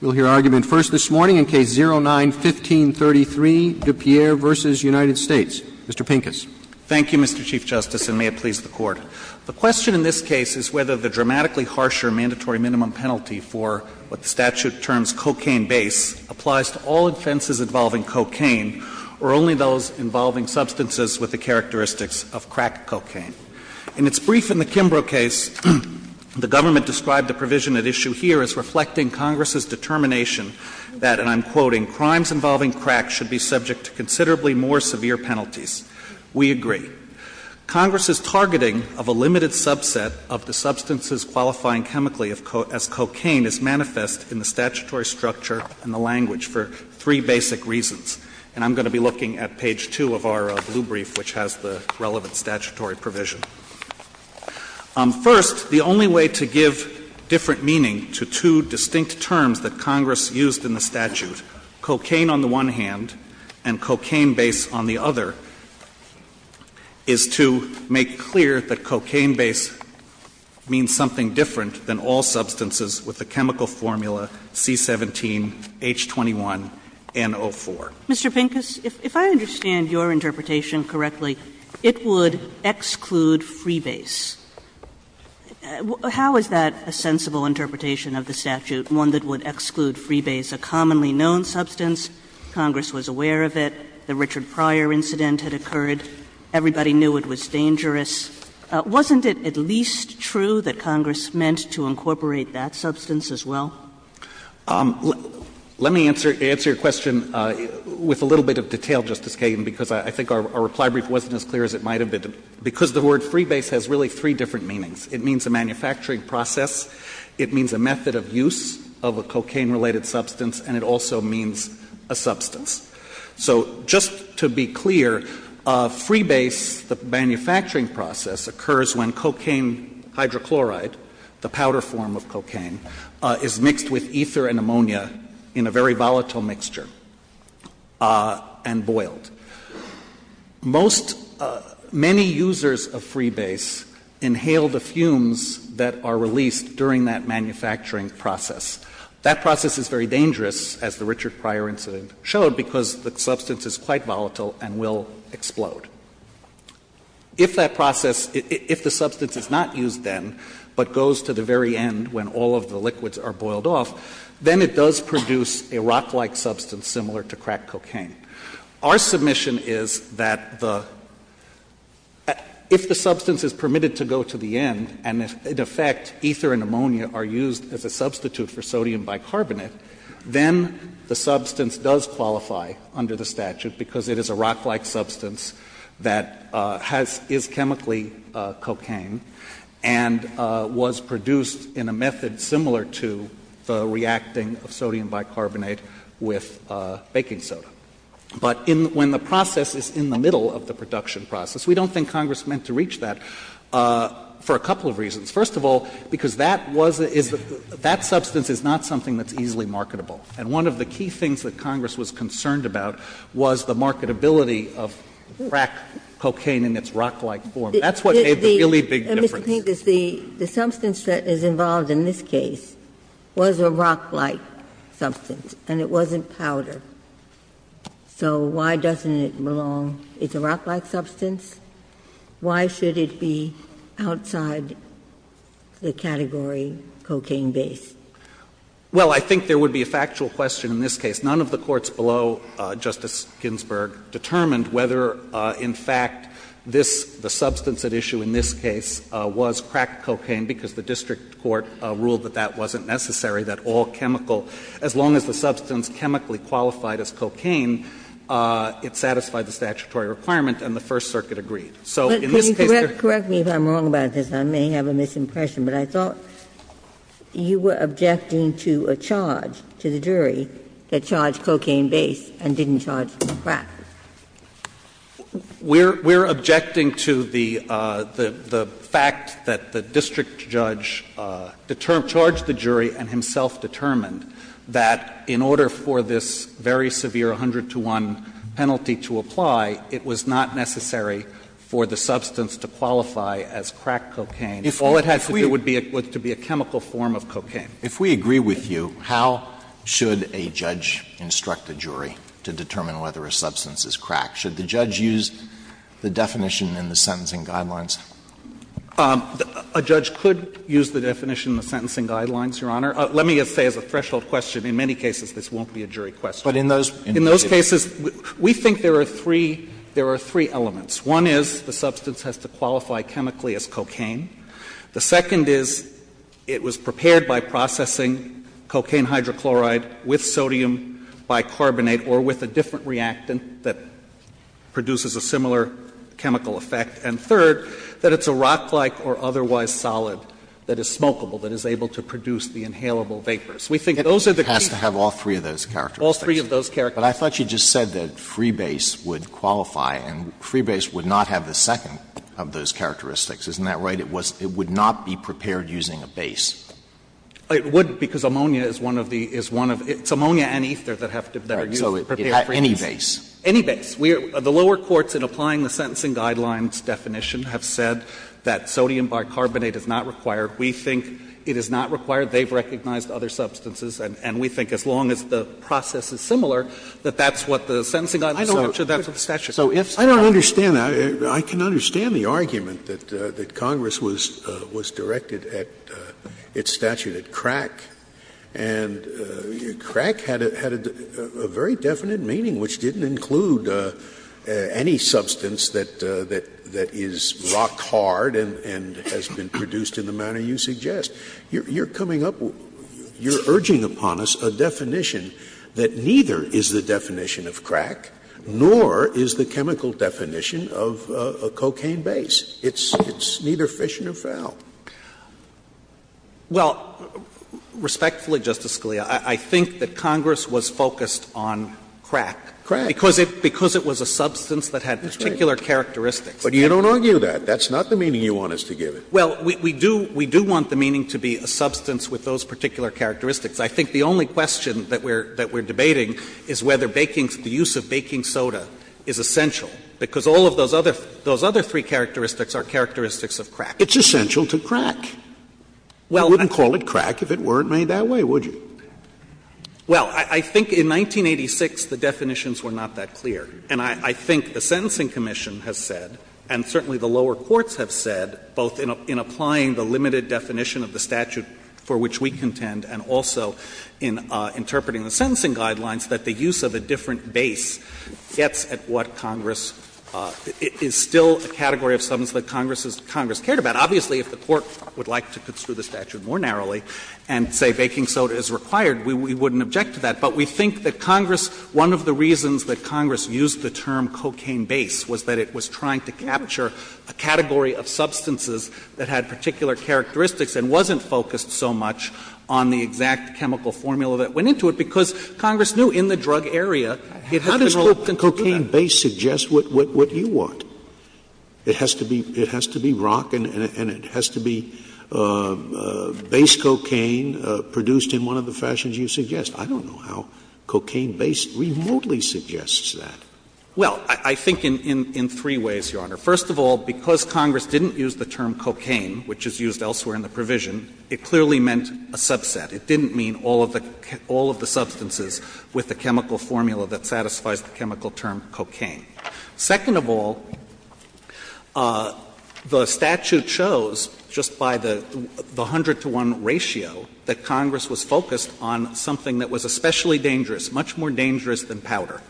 We'll hear argument first this morning in Case 09-1533, DePierre v. United States. Mr. Pincus. Thank you, Mr. Chief Justice, and may it please the Court. The question in this case is whether the dramatically harsher mandatory minimum penalty for what the statute terms cocaine base applies to all offenses involving cocaine or only those involving substances with the characteristics of crack cocaine. In its brief in the Kimbrough case, the government described the provision at issue here as reflecting Congress's determination that, and I'm quoting, crimes involving crack should be subject to considerably more severe penalties. We agree. Congress's targeting of a limited subset of the substances qualifying chemically as cocaine is manifest in the statutory structure and the language for three basic reasons. And I'm going to be looking at page 2 of our blue brief, which has the relevant statutory provision. First, the only way to give different meaning to two distinct terms that Congress used in the statute, cocaine on the one hand and cocaine base on the other, is to make clear that cocaine base means something different than all substances with the chemical formula C-17, H-21, and O-4. Mr. Pincus, if I understand your interpretation correctly, it would exclude freebase. How is that a sensible interpretation of the statute, one that would exclude freebase, a commonly known substance? Congress was aware of it. The Richard Pryor incident had occurred. Everybody knew it was dangerous. Wasn't it at least true that Congress meant to incorporate that substance as well? Let me answer your question with a little bit of detail, Justice Kagan, because I think our reply brief wasn't as clear as it might have been. Because the word freebase has really three different meanings. It means a manufacturing process, it means a method of use of a cocaine-related substance, and it also means a substance. So just to be clear, freebase, the manufacturing process, occurs when cocaine hydrochloride, the powder form of cocaine, is mixed with ether and ammonia in a very volatile mixture and boiled. Most — many users of freebase inhale the fumes that are released during that manufacturing process. That process is very dangerous, as the Richard Pryor incident showed, because the substance is quite volatile and will explode. If that process — if the substance is not used then, but goes to the very end when all of the liquids are boiled off, then it does produce a rock-like substance similar to crack cocaine. Our submission is that the — if the substance is permitted to go to the end and, in effect, ether and ammonia are used as a substitute for sodium bicarbonate, then the substance does qualify under the statute because it is a rock-like substance that has — is chemically cocaine and was produced in a method similar to the reacting of sodium bicarbonate with baking soda. But in — when the process is in the middle of the production process, we don't think Congress meant to reach that for a couple of reasons. First of all, because that was — that substance is not something that's easily marketable. And one of the key things that Congress was concerned about was the marketability of crack cocaine in its rock-like form. That's what made the really big difference. Ginsburg. And, Mr. Pincus, the substance that is involved in this case was a rock-like substance, and it wasn't powder. So why doesn't it belong — it's a rock-like substance. Why should it be outside the category cocaine-based? Pincus. Well, I think there would be a factual question in this case. None of the courts below Justice Ginsburg determined whether, in fact, this — the substance at issue in this case was crack cocaine, because the district court ruled that that wasn't necessary, that all chemical — as long as the substance chemically qualified as cocaine, it satisfied the statutory requirement, and the First Circuit agreed. So in this case, there's no question. Ginsburg. You were objecting to a charge to the jury that charged cocaine-based and didn't charge crack. Pincus. We're — we're objecting to the fact that the district judge charged the jury and himself determined that in order for this very severe 100-to-1 penalty to apply, it was not necessary for the substance to qualify as crack cocaine. All it has to do would be a — to be a chemical form of cocaine. If we agree with you, how should a judge instruct a jury to determine whether a substance is crack? Should the judge use the definition in the sentencing guidelines? A judge could use the definition in the sentencing guidelines, Your Honor. Let me just say as a threshold question, in many cases, this won't be a jury question. But in those — in those cases, we think there are three — there are three elements. One is the substance has to qualify chemically as cocaine. The second is it was prepared by processing cocaine hydrochloride with sodium bicarbonate or with a different reactant that produces a similar chemical effect. And third, that it's a rock-like or otherwise solid that is smokable, that is able to produce the inhalable vapors. We think those are the key — It has to have all three of those characteristics. All three of those characteristics. But I thought you just said that freebase would qualify, and freebase would not have the second of those characteristics. Isn't that right? It was — it would not be prepared using a base. It wouldn't, because ammonia is one of the — is one of — it's ammonia and ether that have to — that are used to prepare freebase. Any base. Any base. We are — the lower courts in applying the sentencing guidelines definition have said that sodium bicarbonate is not required. We think it is not required. They have recognized other substances, and we think as long as the process is similar, that that's what the sentencing guidelines are, that's what the statute is. Scalia I don't understand that. I can understand the argument that Congress was directed at its statute at crack. And crack had a very definite meaning, which didn't include any substance that is rock-hard and has been produced in the manner you suggest. You're coming up — you're urging upon us a definition that neither is the definition of crack nor is the chemical definition of a cocaine base. It's neither fission or foul. Clement Well, respectfully, Justice Scalia, I think that Congress was focused on crack. Scalia Crack. Clement Because it was a substance that had particular characteristics. Scalia But you don't argue that. That's not the meaning you want us to give it. Clement Well, we do want the meaning to be a substance with those particular characteristics. I think the only question that we're debating is whether baking — the use of baking soda is essential, because all of those other three characteristics are characteristics of crack. Scalia It's essential to crack. You wouldn't call it crack if it weren't made that way, would you? Clement Well, I think in 1986 the definitions were not that clear. And I think the Sentencing Commission has said, and certainly the lower courts have said, both in applying the limited definition of the statute for which we contend and also in interpreting the sentencing guidelines, that the use of a different base gets at what Congress — is still a category of substance that Congress has — Congress cared about. Obviously, if the Court would like to construe the statute more narrowly and say baking soda is required, we wouldn't object to that. But we think that Congress — one of the reasons that Congress used the term cocaine base was that it was trying to capture a category of substances that had particular characteristics and wasn't focused so much on the exact chemical formula that went into it, because Congress knew in the drug area it had been rolled into that. Scalia How does cocaine base suggest what you want? It has to be rock and it has to be base cocaine produced in one of the fashions you suggest. I don't know how cocaine base remotely suggests that. Well, I think in three ways, Your Honor. First of all, because Congress didn't use the term cocaine, which is used elsewhere in the provision, it clearly meant a subset. It didn't mean all of the substances with the chemical formula that satisfies the chemical term cocaine. Second of all, the statute shows just by the 100 to 1 ratio that Congress was focused on something that was especially dangerous, much more dangerous than powder.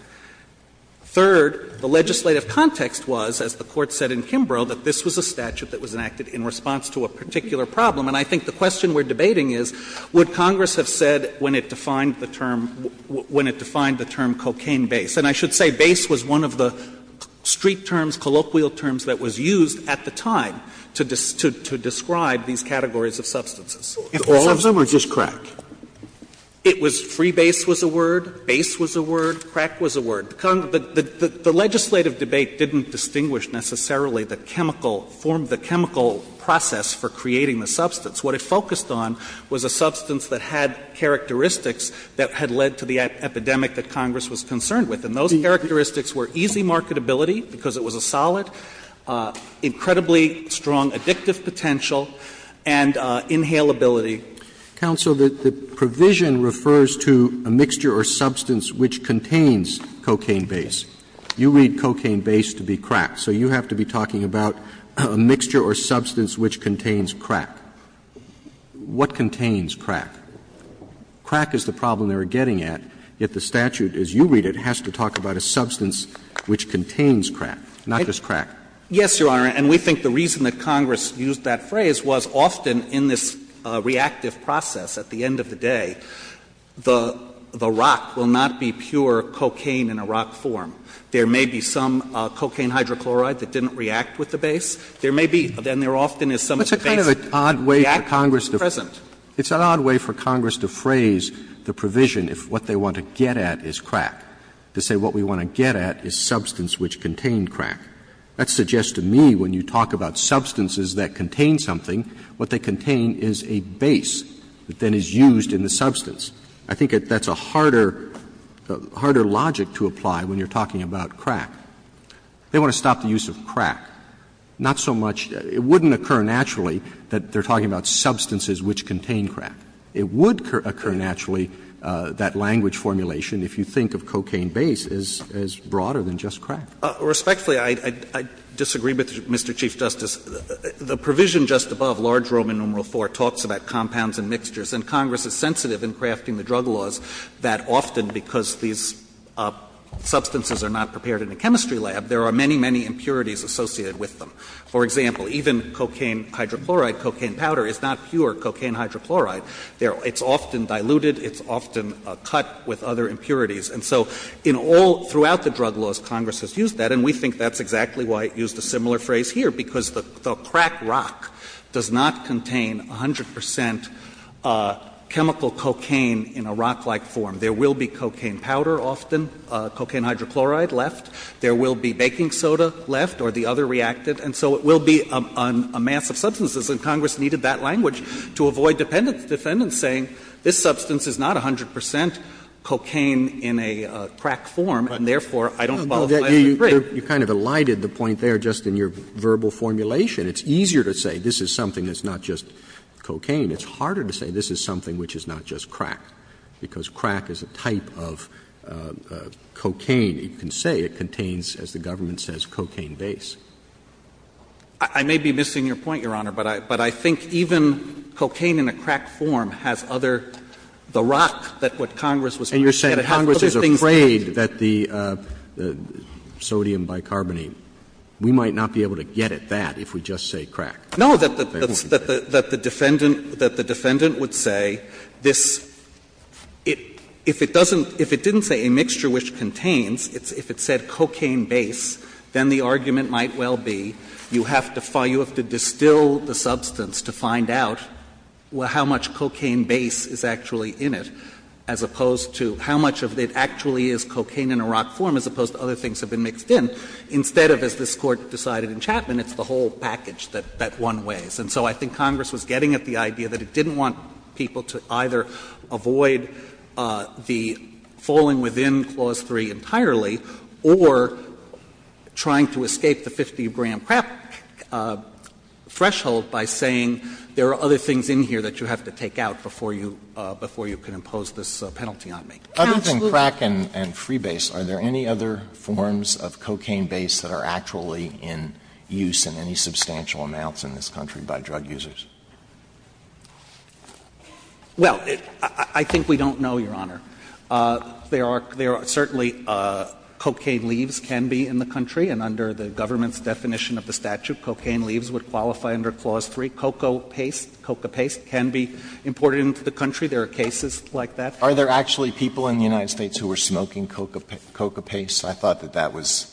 Third, the legislative context was, as the Court said in Kimbrough, that this was a statute that was enacted in response to a particular problem. And I think the question we're debating is, would Congress have said when it defined the term — when it defined the term cocaine base? And I should say base was one of the street terms, colloquial terms that was used at the time to describe these categories of substances. Sotomayor All of them or just crack? It was — free base was a word, base was a word, crack was a word. The legislative debate didn't distinguish necessarily the chemical — form the chemical process for creating the substance. What it focused on was a substance that had characteristics that had led to the epidemic that Congress was concerned with. And those characteristics were easy marketability, because it was a solid, incredibly strong addictive potential, and inhalability. Roberts Counsel, the provision refers to a mixture or substance which contains cocaine base. You read cocaine base to be crack, so you have to be talking about a mixture or substance which contains crack. What contains crack? Crack is the problem they were getting at, yet the statute, as you read it, has to talk about a substance which contains crack, not just crack. Yes, Your Honor. And we think the reason that Congress used that phrase was often in this reactive process at the end of the day, the rock will not be pure cocaine in a rock form. There may be some cocaine hydrochloride that didn't react with the base. There may be — then there often is some of the base that reacted with the present. Roberts It's an odd way for Congress to phrase the provision if what they want to get at is crack, to say what we want to get at is substance which contained crack. That suggests to me when you talk about substances that contain something, what they contain is a base that then is used in the substance. I think that's a harder logic to apply when you're talking about crack. They want to stop the use of crack. Not so much — it wouldn't occur naturally that they're talking about substances which contain crack. It would occur naturally, that language formulation, if you think of cocaine base as broader than just crack. Respectfully, I disagree with you, Mr. Chief Justice. The provision just above, large Roman numeral IV, talks about compounds and mixtures. And Congress is sensitive in crafting the drug laws that often because these substances are not prepared in a chemistry lab, there are many, many impurities associated with them. For example, even cocaine hydrochloride, cocaine powder, is not pure cocaine hydrochloride. It's often diluted. It's often cut with other impurities. And so in all — throughout the drug laws, Congress has used that, and we think that's exactly why it used a similar phrase here, because the crack rock does not contain 100 percent chemical cocaine in a rock-like form. There will be cocaine powder often, cocaine hydrochloride left. There will be baking soda left or the other reactant. And so it will be a mass of substances, and Congress needed that language to avoid defendants saying this substance is not 100 percent cocaine in a crack form, and therefore, I don't qualify as a drug. Roberts. You kind of elided the point there just in your verbal formulation. It's easier to say this is something that's not just cocaine. It's harder to say this is something which is not just crack, because crack is a type of cocaine. You can say it contains, as the government says, cocaine base. I may be missing your point, Your Honor. But I think even cocaine in a crack form has other — the rock that what Congress was trying to get at. Roberts. And you're saying Congress is afraid that the sodium bicarbonate, we might not be able to get at that if we just say crack. No, that the defendant would say this — if it doesn't — if it didn't say a mixture which contains, if it said cocaine base, then the argument might well be you have to distill the substance to find out how much cocaine base is actually in it, as opposed to how much of it actually is cocaine in a rock form, as opposed to other things that have been mixed in, instead of, as this Court decided in Chapman, it's the whole package that one weighs. And so I think Congress was getting at the idea that it didn't want people to either avoid the falling within Clause 3 entirely, or trying to escape the 50-gram crack threshold by saying there are other things in here that you have to take out before you — before you can impose this penalty on me. Other than crack and freebase, are there any other forms of cocaine base that are actually in use in any substantial amounts in this country by drug users? Well, I think we don't know, Your Honor. There are certainly cocaine leaves can be in the country, and under the government's definition of the statute, cocaine leaves would qualify under Clause 3. Cocoa paste, coca paste can be imported into the country. There are cases like that. Are there actually people in the United States who are smoking coca paste? I thought that that was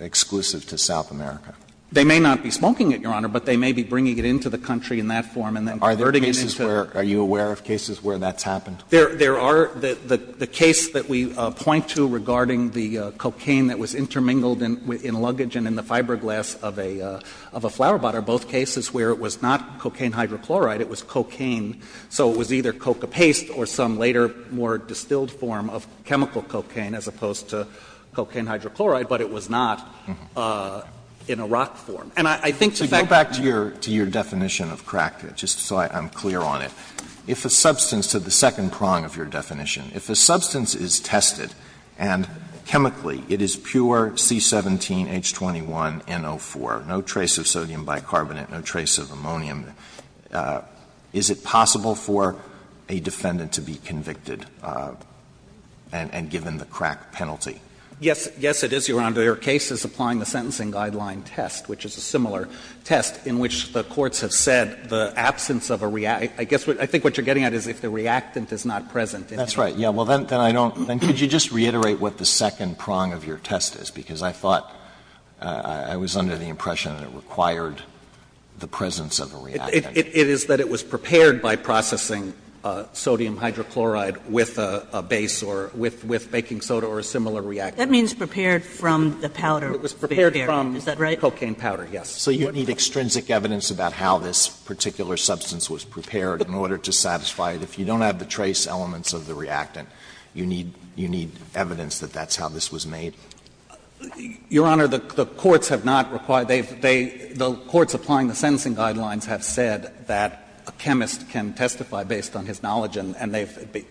exclusive to South America. They may not be smoking it, Your Honor, but they may be bringing it into the country in that form and then converting it into the country. Are you aware of cases where that's happened? There are. The case that we point to regarding the cocaine that was intermingled in luggage and in the fiberglass of a flowerpot are both cases where it was not cocaine hydrochloride, it was cocaine. So it was either coca paste or some later more distilled form of chemical cocaine as opposed to cocaine hydrochloride, but it was not in a rock form. And I think the fact that you're going to go back to your definition of crack, just so I'm clear on it. If a substance to the second prong of your definition, if a substance is tested and chemically it is pure C17H21NO4, no trace of sodium bicarbonate, no trace of ammonium, is it possible for a defendant to be convicted and given the crack penalty? Yes. Yes, it is, Your Honor. Their case is applying the Sentencing Guideline test, which is a similar test, in which the courts have said the absence of a reactant. I guess what you're getting at is if the reactant is not present in it. That's right. Then could you just reiterate what the second prong of your test is, because I thought I was under the impression that it required the presence of a reactant. It is that it was prepared by processing sodium hydrochloride with a base or with baking soda or a similar reactant. That means prepared from the powder. It was prepared from cocaine powder, yes. So you need extrinsic evidence about how this particular substance was prepared in order to satisfy it. If you don't have the trace elements of the reactant, you need evidence that that's how this was made? Your Honor, the courts have not required they've they the courts applying the Sentencing Guidelines have said that a chemist can testify based on his knowledge, and they've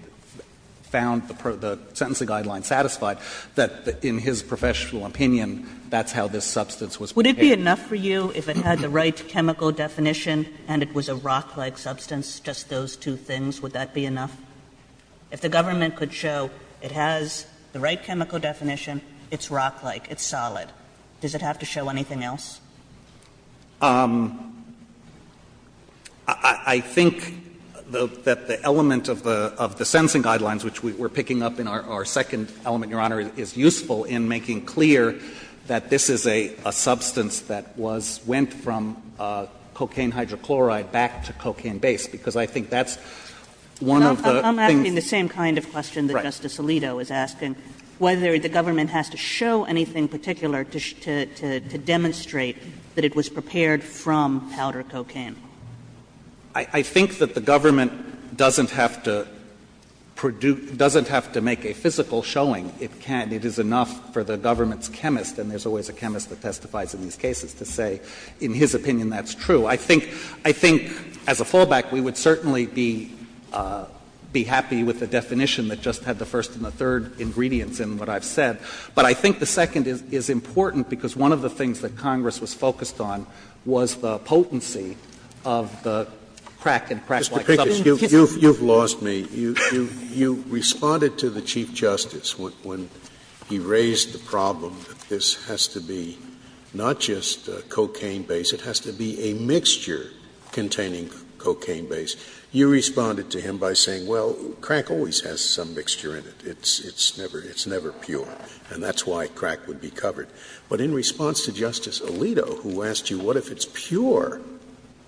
found the Sentencing Guidelines satisfied, that in his professional opinion, that's how this substance was prepared. Would it be enough for you if it had the right chemical definition and it was a rock-like substance, just those two things, would that be enough? If the government could show it has the right chemical definition, it's rock-like, it's solid, does it have to show anything else? I think that the element of the Sentencing Guidelines, which we're picking up in our second element, Your Honor, is useful in making clear that this is a substance that was, went from cocaine hydrochloride back to cocaine base, because I think that's one of the. I'm asking the same kind of question that Justice Alito is asking, whether the government has to show anything particular to demonstrate that it was prepared from powder cocaine. I think that the government doesn't have to produce, doesn't have to make a physical showing. It can't. It is enough for the government's chemist, and there's always a chemist that testifies in these cases, to say in his opinion that's true. I think, as a fallback, we would certainly be happy with the definition that just had the first and the third ingredients in what I've said. But I think the second is important, because one of the things that Congress was focused on was the potency of the crack and crack-like substance. Scalia, you've lost me. You responded to the Chief Justice when he raised the problem that this has to be not just cocaine base, it has to be a mixture containing cocaine base. You responded to him by saying, well, crack always has some mixture in it. It's never pure, and that's why crack would be covered. But in response to Justice Alito, who asked you, what if it's pure,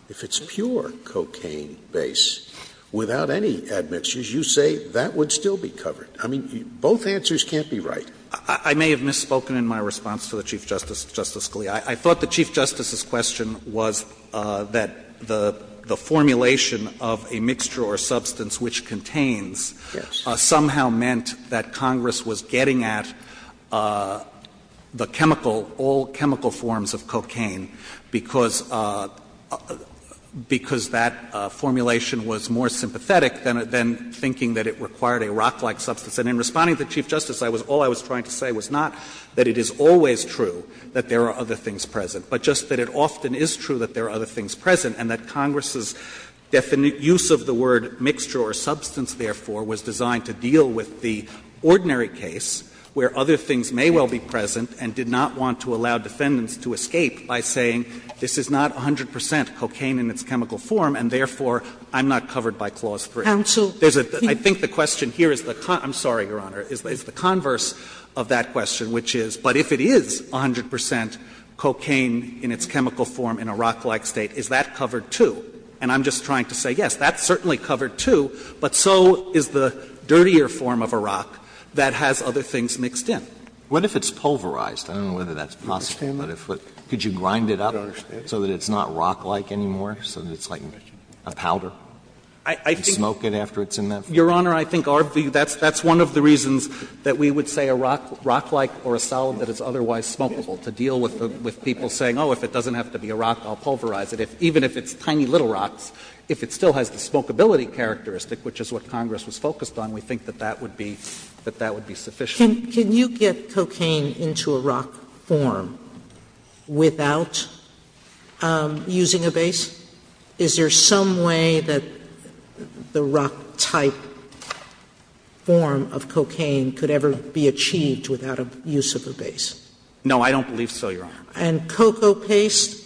if it's pure cocaine base without any admixtures, you say that would still be covered. I mean, both answers can't be right. I may have misspoken in my response to the Chief Justice, Justice Scalia. I thought the Chief Justice's question was that the formulation of a mixture or substance which contains somehow meant that Congress was getting at the chemical, all chemical forms of cocaine, because that formulation was more sympathetic than thinking that it required a rock-like substance. And in responding to the Chief Justice, all I was trying to say was not that it is always true that there are other things present, but just that it often is true that there are other things present, and that Congress's use of the word mixture or substance, therefore, was designed to deal with the ordinary case where other things may well be present and did not want to allow defendants to escape by saying this is not 100 percent cocaine in its chemical form, and therefore, I'm not covered by Clause 3. Sotomayor, I think the question here is the concern of the Court, I'm sorry, of the Congress, I'm sorry, Your Honor, is the converse of that question, which is, but if it is 100 percent cocaine in its chemical form in a rock-like state, is that covered, too? And I'm just trying to say, yes, that's certainly covered, too, but so is the dirtier form of a rock that has other things mixed in. What if it's pulverized? I don't know whether that's possible, but could you grind it up so that it's not rock-like anymore, so that it's like a powder? Can you smoke it after it's in there? Your Honor, I think that's one of the reasons that we would say a rock, rock-like or a solid that is otherwise smokable, to deal with people saying, oh, if it doesn't have to be a rock, I'll pulverize it. Even if it's tiny little rocks, if it still has the smokability characteristic, which is what Congress was focused on, we think that that would be sufficient. Sotomayor, can you get cocaine into a rock form without using a base? Is there some way that the rock-type form of cocaine could ever be achieved without a use of a base? No, I don't believe so, Your Honor. And cocoa paste,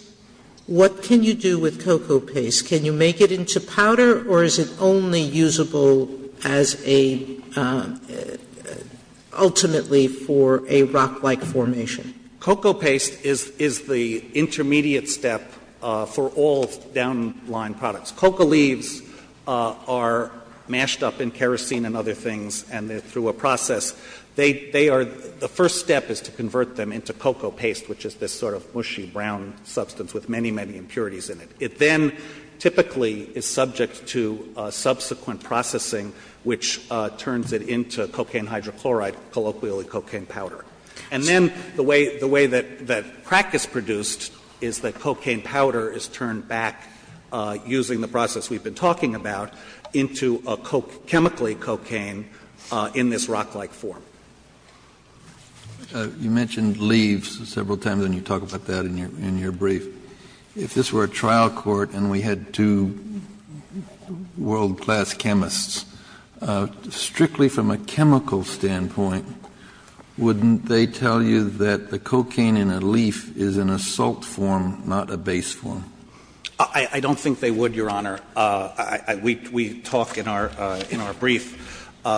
what can you do with cocoa paste? Can you make it into powder, or is it only usable as a ultimately for a rock-like formation? Cocoa paste is the intermediate step for all down-lying products. Cocoa leaves are mashed up in kerosene and other things, and through a process, they are, the first step is to convert them into cocoa paste, which is this sort of mushy brown substance with many, many impurities in it. It then typically is subject to subsequent processing, which turns it into cocaine hydrochloride, colloquially cocaine powder. And then the way that crack is produced is that cocaine powder is turned back, using the process we've been talking about, into a chemically cocaine in this rock-like form. Kennedy, you mentioned leaves several times, and you talk about that in your brief. If this were a trial court and we had two world-class chemists, strictly from a chemical standpoint, wouldn't they tell you that the cocaine in a leaf is in a salt form, not a base form? I don't think they would, Your Honor. We talk in our brief,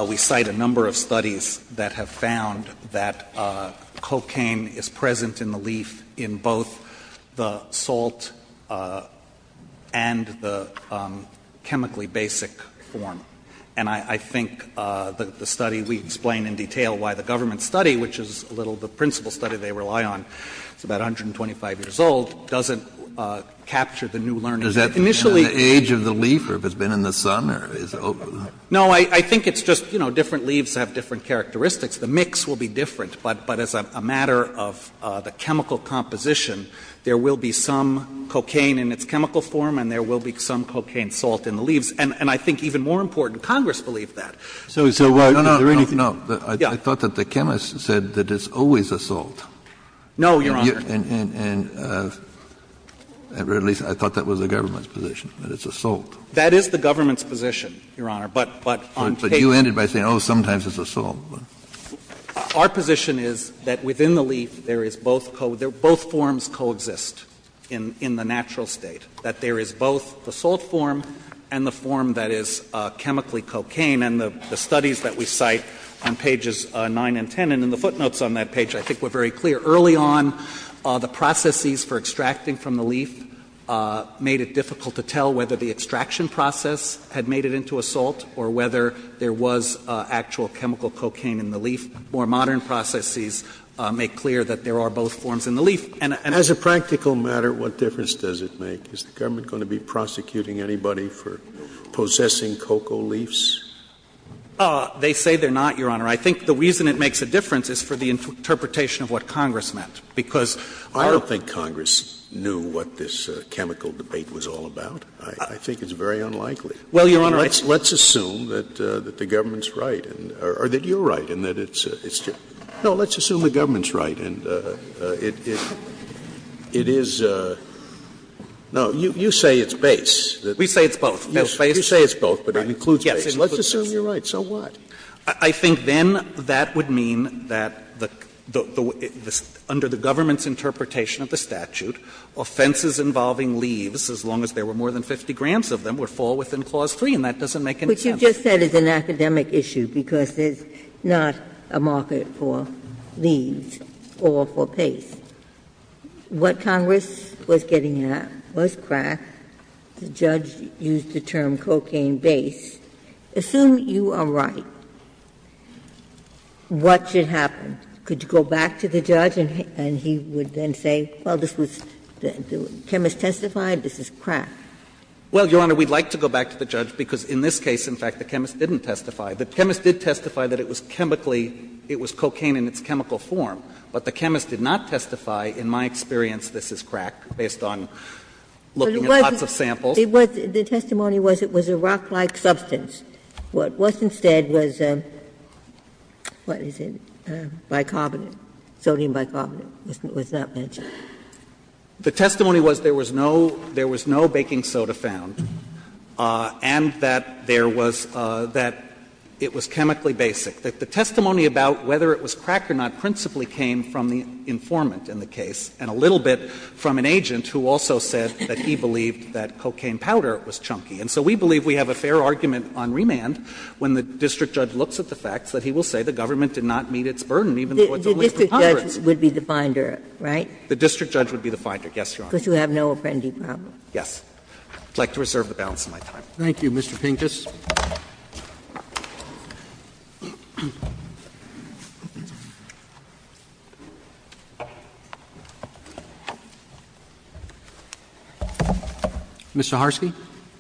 we cite a number of studies that have found that cocaine is present in the leaf in both the salt and the chemically basic form. And I think the study we explain in detail why the government study, which is a little of the principal study they rely on, it's about 125 years old, doesn't capture the new learning. Initially the age of the leaf or if it's been in the sun or is it? No, I think it's just, you know, different leaves have different characteristics. The mix will be different, but as a matter of the chemical composition, there will be some cocaine in its chemical form and there will be some cocaine salt in the leaves. And I think even more important, Congress believed that. So is there a way to really? No, I thought that the chemist said that it's always a salt. No, Your Honor. And at least I thought that was the government's position, that it's a salt. That is the government's position, Your Honor, but on paper. But you ended by saying, oh, sometimes it's a salt. Our position is that within the leaf there is both forms coexist in the natural state, that there is both the salt form and the form that is chemically cocaine. And the studies that we cite on pages 9 and 10 and in the footnotes on that page, I think were very clear. Early on, the processes for extracting from the leaf made it difficult to tell whether the extraction process had made it into a salt or whether there was actual chemical cocaine in the leaf. And as a practical matter, what difference does it make? Is the government going to be prosecuting anybody for possessing cocoa leaves? They say they're not, Your Honor. I think the reason it makes a difference is for the interpretation of what Congress meant, because our ---- I don't think Congress knew what this chemical debate was all about. I think it's very unlikely. Well, Your Honor, it's ---- Let's assume that the government's right, or that you're right, and that it's just No, let's assume the government's right, and it is no, you say it's base. We say it's both. You say it's both, but it includes base. Let's assume you're right, so what? I think then that would mean that the under the government's interpretation of the statute, offenses involving leaves, as long as there were more than 50 grams of them, would fall within clause 3, and that doesn't make any sense. But you just said it's an academic issue, because there's not a market for leaves or for base. What Congress was getting at was crack. The judge used the term cocaine base. Assume you are right, what should happen? Could you go back to the judge, and he would then say, well, this was ---- the chemist testified this is crack. Well, Your Honor, we'd like to go back to the judge, because in this case, in fact, the chemist didn't testify. The chemist did testify that it was chemically ---- it was cocaine in its chemical form, but the chemist did not testify, in my experience, this is crack, based on looking at lots of samples. It was ---- the testimony was it was a rock-like substance. What was instead was, what is it, bicarbonate, sodium bicarbonate was not mentioned. The testimony was there was no ---- there was no baking soda found, and that there was ---- that it was chemically basic. The testimony about whether it was crack or not principally came from the informant in the case, and a little bit from an agent who also said that he believed that cocaine powder was chunky. And so we believe we have a fair argument on remand when the district judge looks at the facts, that he will say the government did not meet its burden, even though it's only for Congress. Ginsburg. The district judge would be the finder, right? The district judge would be the finder, yes, Your Honor. Because you have no apprentice problem. Yes. I would like to reserve the balance of my time. Thank you, Mr. Pincus. Ms. Zaharsky.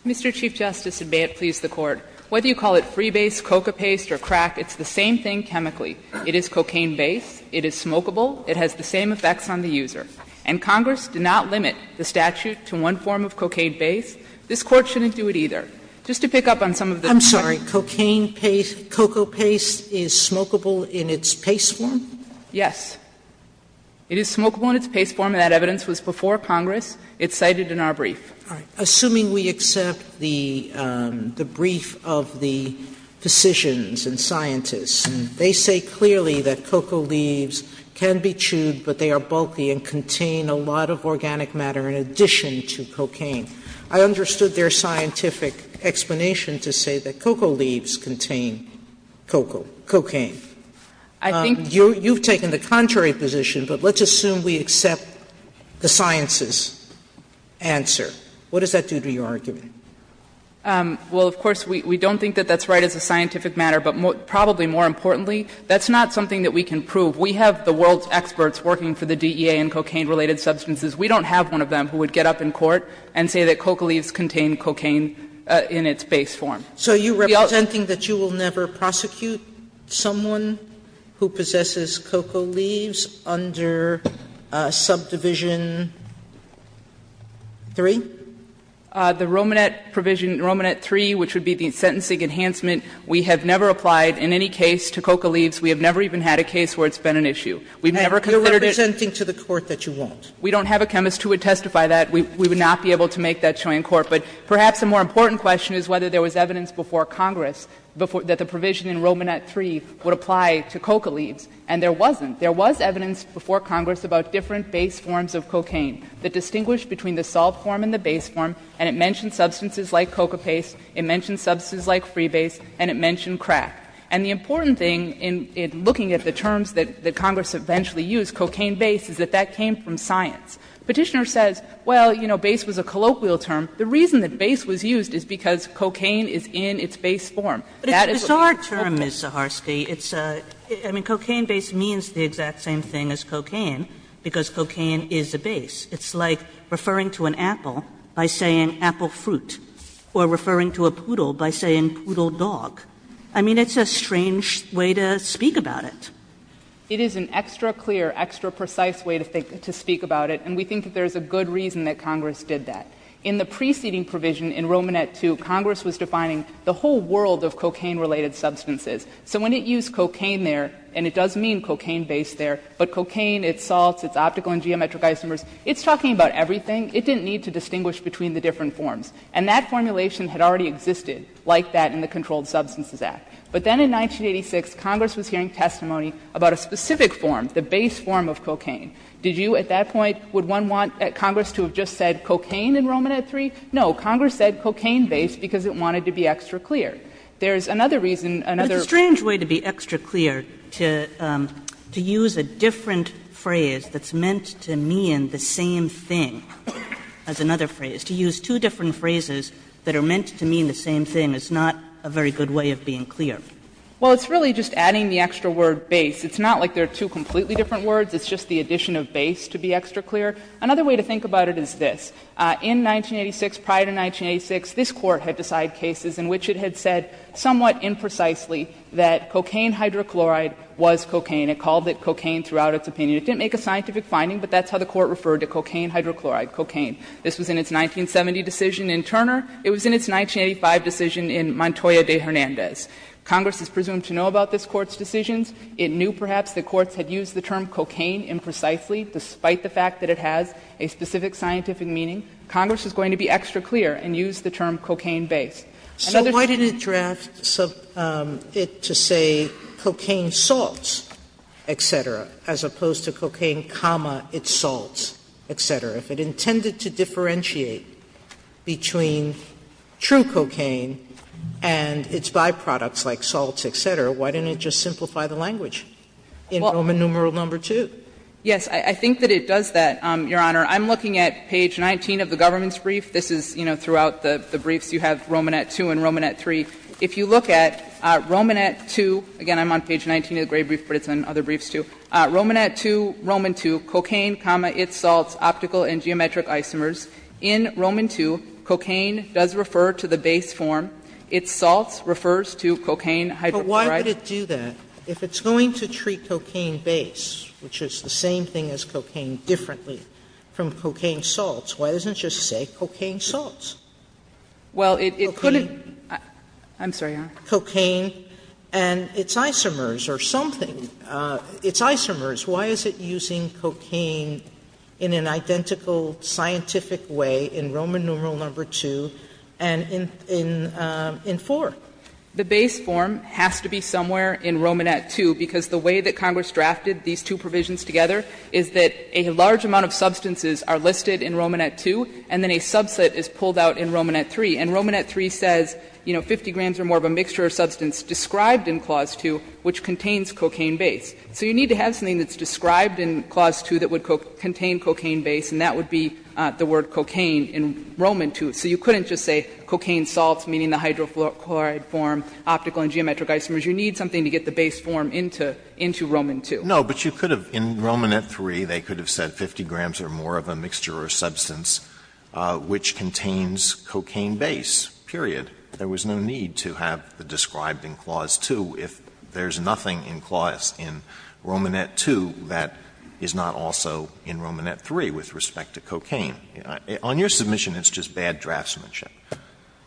Mr. Chief Justice, and may it please the Court, whether you call it freebase, coca paste, or crack, it's the same thing chemically. It is cocaine-based, it is smokable, it has the same effects on the user. And Congress did not limit the statute to one form of cocaine-based. This Court shouldn't do it either. Just to pick up on some of the---- Sotomayor, I'm sorry. Cocaine paste, coca paste, is smokable in its paste form? Yes. It is smokable in its paste form, and that evidence was before Congress. It's cited in our brief. Sotomayor, assuming we accept the brief of the physicians and scientists, they say clearly that cocoa leaves can be chewed, but they are bulky and contain a lot of organic matter in addition to cocaine. I understood their scientific explanation to say that cocoa leaves contain cocoa, cocaine. I think you've taken the contrary position, but let's assume we accept the science's answer. What does that do to your argument? Well, of course, we don't think that that's right as a scientific matter, but probably more importantly, that's not something that we can prove. We have the world's experts working for the DEA in cocaine-related substances. We don't have one of them who would get up in court and say that cocoa leaves contain cocaine in its base form. So you're representing that you will never prosecute someone who possesses cocoa leaves under Subdivision III? The Romanet Provision, Romanet III, which would be the sentencing enhancement, we have never applied in any case to cocoa leaves. We have never even had a case where it's been an issue. We've never considered it. And you're representing to the Court that you won't? We don't have a chemist who would testify that. We would not be able to make that showing in court. But perhaps a more important question is whether there was evidence before Congress that the provision in Romanet III would apply to cocoa leaves, and there wasn't. There was evidence before Congress about different base forms of cocaine that distinguished between the solved form and the base form, and it mentioned substances like coca paste, it mentioned substances like freebase, and it mentioned crack. And the important thing in looking at the terms that Congress eventually used, cocaine base, is that that came from science. Petitioner says, well, you know, base was a colloquial term. The reason that base was used is because cocaine is in its base form. That is a base. Kagan, it's a bizarre term, Ms. Zaharsky. It's a — I mean, cocaine base means the exact same thing as cocaine, because cocaine is a base. It's like referring to an apple by saying apple fruit, or referring to a poodle by saying poodle dog. I mean, it's a strange way to speak about it. Zaharsky It is an extra-clear, extra-precise way to speak about it, and we think that there is a good reason that Congress did that. In the preceding provision in Romanet II, Congress was defining the whole world of cocaine-related substances. So when it used cocaine there, and it does mean cocaine base there, but cocaine, its salts, its optical and geometric isomers, it's talking about everything. It didn't need to distinguish between the different forms. And that formulation had already existed like that in the Controlled Substances Act. But then in 1986, Congress was hearing testimony about a specific form, the base form of cocaine. Did you at that point, would one want Congress to have just said cocaine in Romanet III? No. Congress said cocaine base because it wanted to be extra-clear. There is another reason, another — Kagan to be extra-clear, to use a different phrase that's meant to mean the same thing as another phrase. To use two different phrases that are meant to mean the same thing is not a very good way of being clear. Zaharsky Well, it's really just adding the extra word base. It's not like there are two completely different words. It's just the addition of base to be extra-clear. Another way to think about it is this. In 1986, prior to 1986, this Court had decided cases in which it had said somewhat imprecisely that cocaine hydrochloride was cocaine. It called it cocaine throughout its opinion. It didn't make a scientific finding, but that's how the Court referred to cocaine hydrochloride, cocaine. This was in its 1970 decision in Turner. It was in its 1985 decision in Montoya de Hernandez. Congress is presumed to know about this Court's decisions. It knew perhaps the courts had used the term cocaine imprecisely, despite the fact that it has a specific scientific meaning. Congress is going to be extra-clear and use the term cocaine base. Sotomayor So why didn't it draft it to say cocaine salts, et cetera, as opposed to cocaine, its salts, et cetera? If it intended to differentiate between true cocaine and its byproducts like salts, et cetera, why didn't it just simplify the language in Roman numeral number 2? Zaharsky Yes. I think that it does that, Your Honor. I'm looking at page 19 of the government's brief. This is, you know, throughout the briefs you have Romanet 2 and Romanet 3. If you look at Romanet 2, again, I'm on page 19 of the grade brief, but it's in other briefs, too. Romanet 2, Roman 2, cocaine, its salts, optical and geometric isomers. In Roman 2, cocaine does refer to the base form. Its salts refers to cocaine hydrochloride. Sotomayor But why would it do that? If it's going to treat cocaine base, which is the same thing as cocaine, differently from cocaine salts, why doesn't it just say cocaine salts? Zaharsky Well, it couldn't. Sotomayor Cocaine and its isomers or something. Its isomers, why is it using cocaine in an identical scientific way in Roman numeral number 2 and in 4? Zaharsky The base form has to be somewhere in Romanet 2, because the way that Congress drafted these two provisions together is that a large amount of substances are listed in Romanet 2 and then a subset is pulled out in Romanet 3. And Romanet 3 says, you know, 50 grams or more of a mixture of substance described in Clause 2 which contains cocaine base. So you need to have something that's described in Clause 2 that would contain cocaine base, and that would be the word cocaine in Roman 2. So you couldn't just say cocaine salts, meaning the hydrochloride form, optical and geometric isomers. You need something to get the base form into Roman 2. Alito No, but you could have, in Romanet 3, they could have said 50 grams or more of a mixture or substance which contains cocaine base, period. There was no need to have the described in Clause 2 if there's nothing in Clause in Romanet 2 that is not also in Romanet 3 with respect to cocaine. On your submission, it's just bad draftsmanship. Zaharsky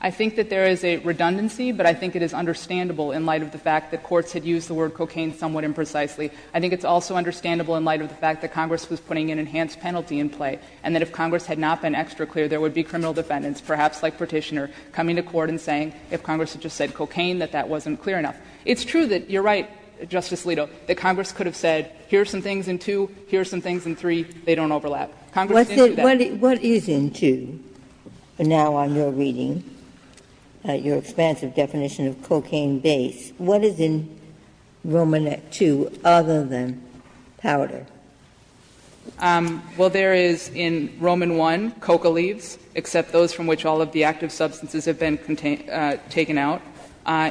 I think that there is a redundancy, but I think it is understandable in light of the fact that courts had used the word cocaine somewhat imprecisely. I think it's also understandable in light of the fact that Congress was putting an enhanced penalty in play, and that if Congress had not been extra clear, there would be criminal defendants, perhaps like Petitioner, coming to court and saying if Congress had just said cocaine, that that wasn't clear enough. It's true that you're right, Justice Alito, that Congress could have said here are some things in 2, here are some things in 3, they don't overlap. Congress didn't do that. Ginsburg What is in 2? Now, on your reading, your expansive definition of cocaine base, what is in Romanet 2 other than powder? Saharsky Well, there is in Roman 1, coca leaves, except those from which all of the active substances have been taken out.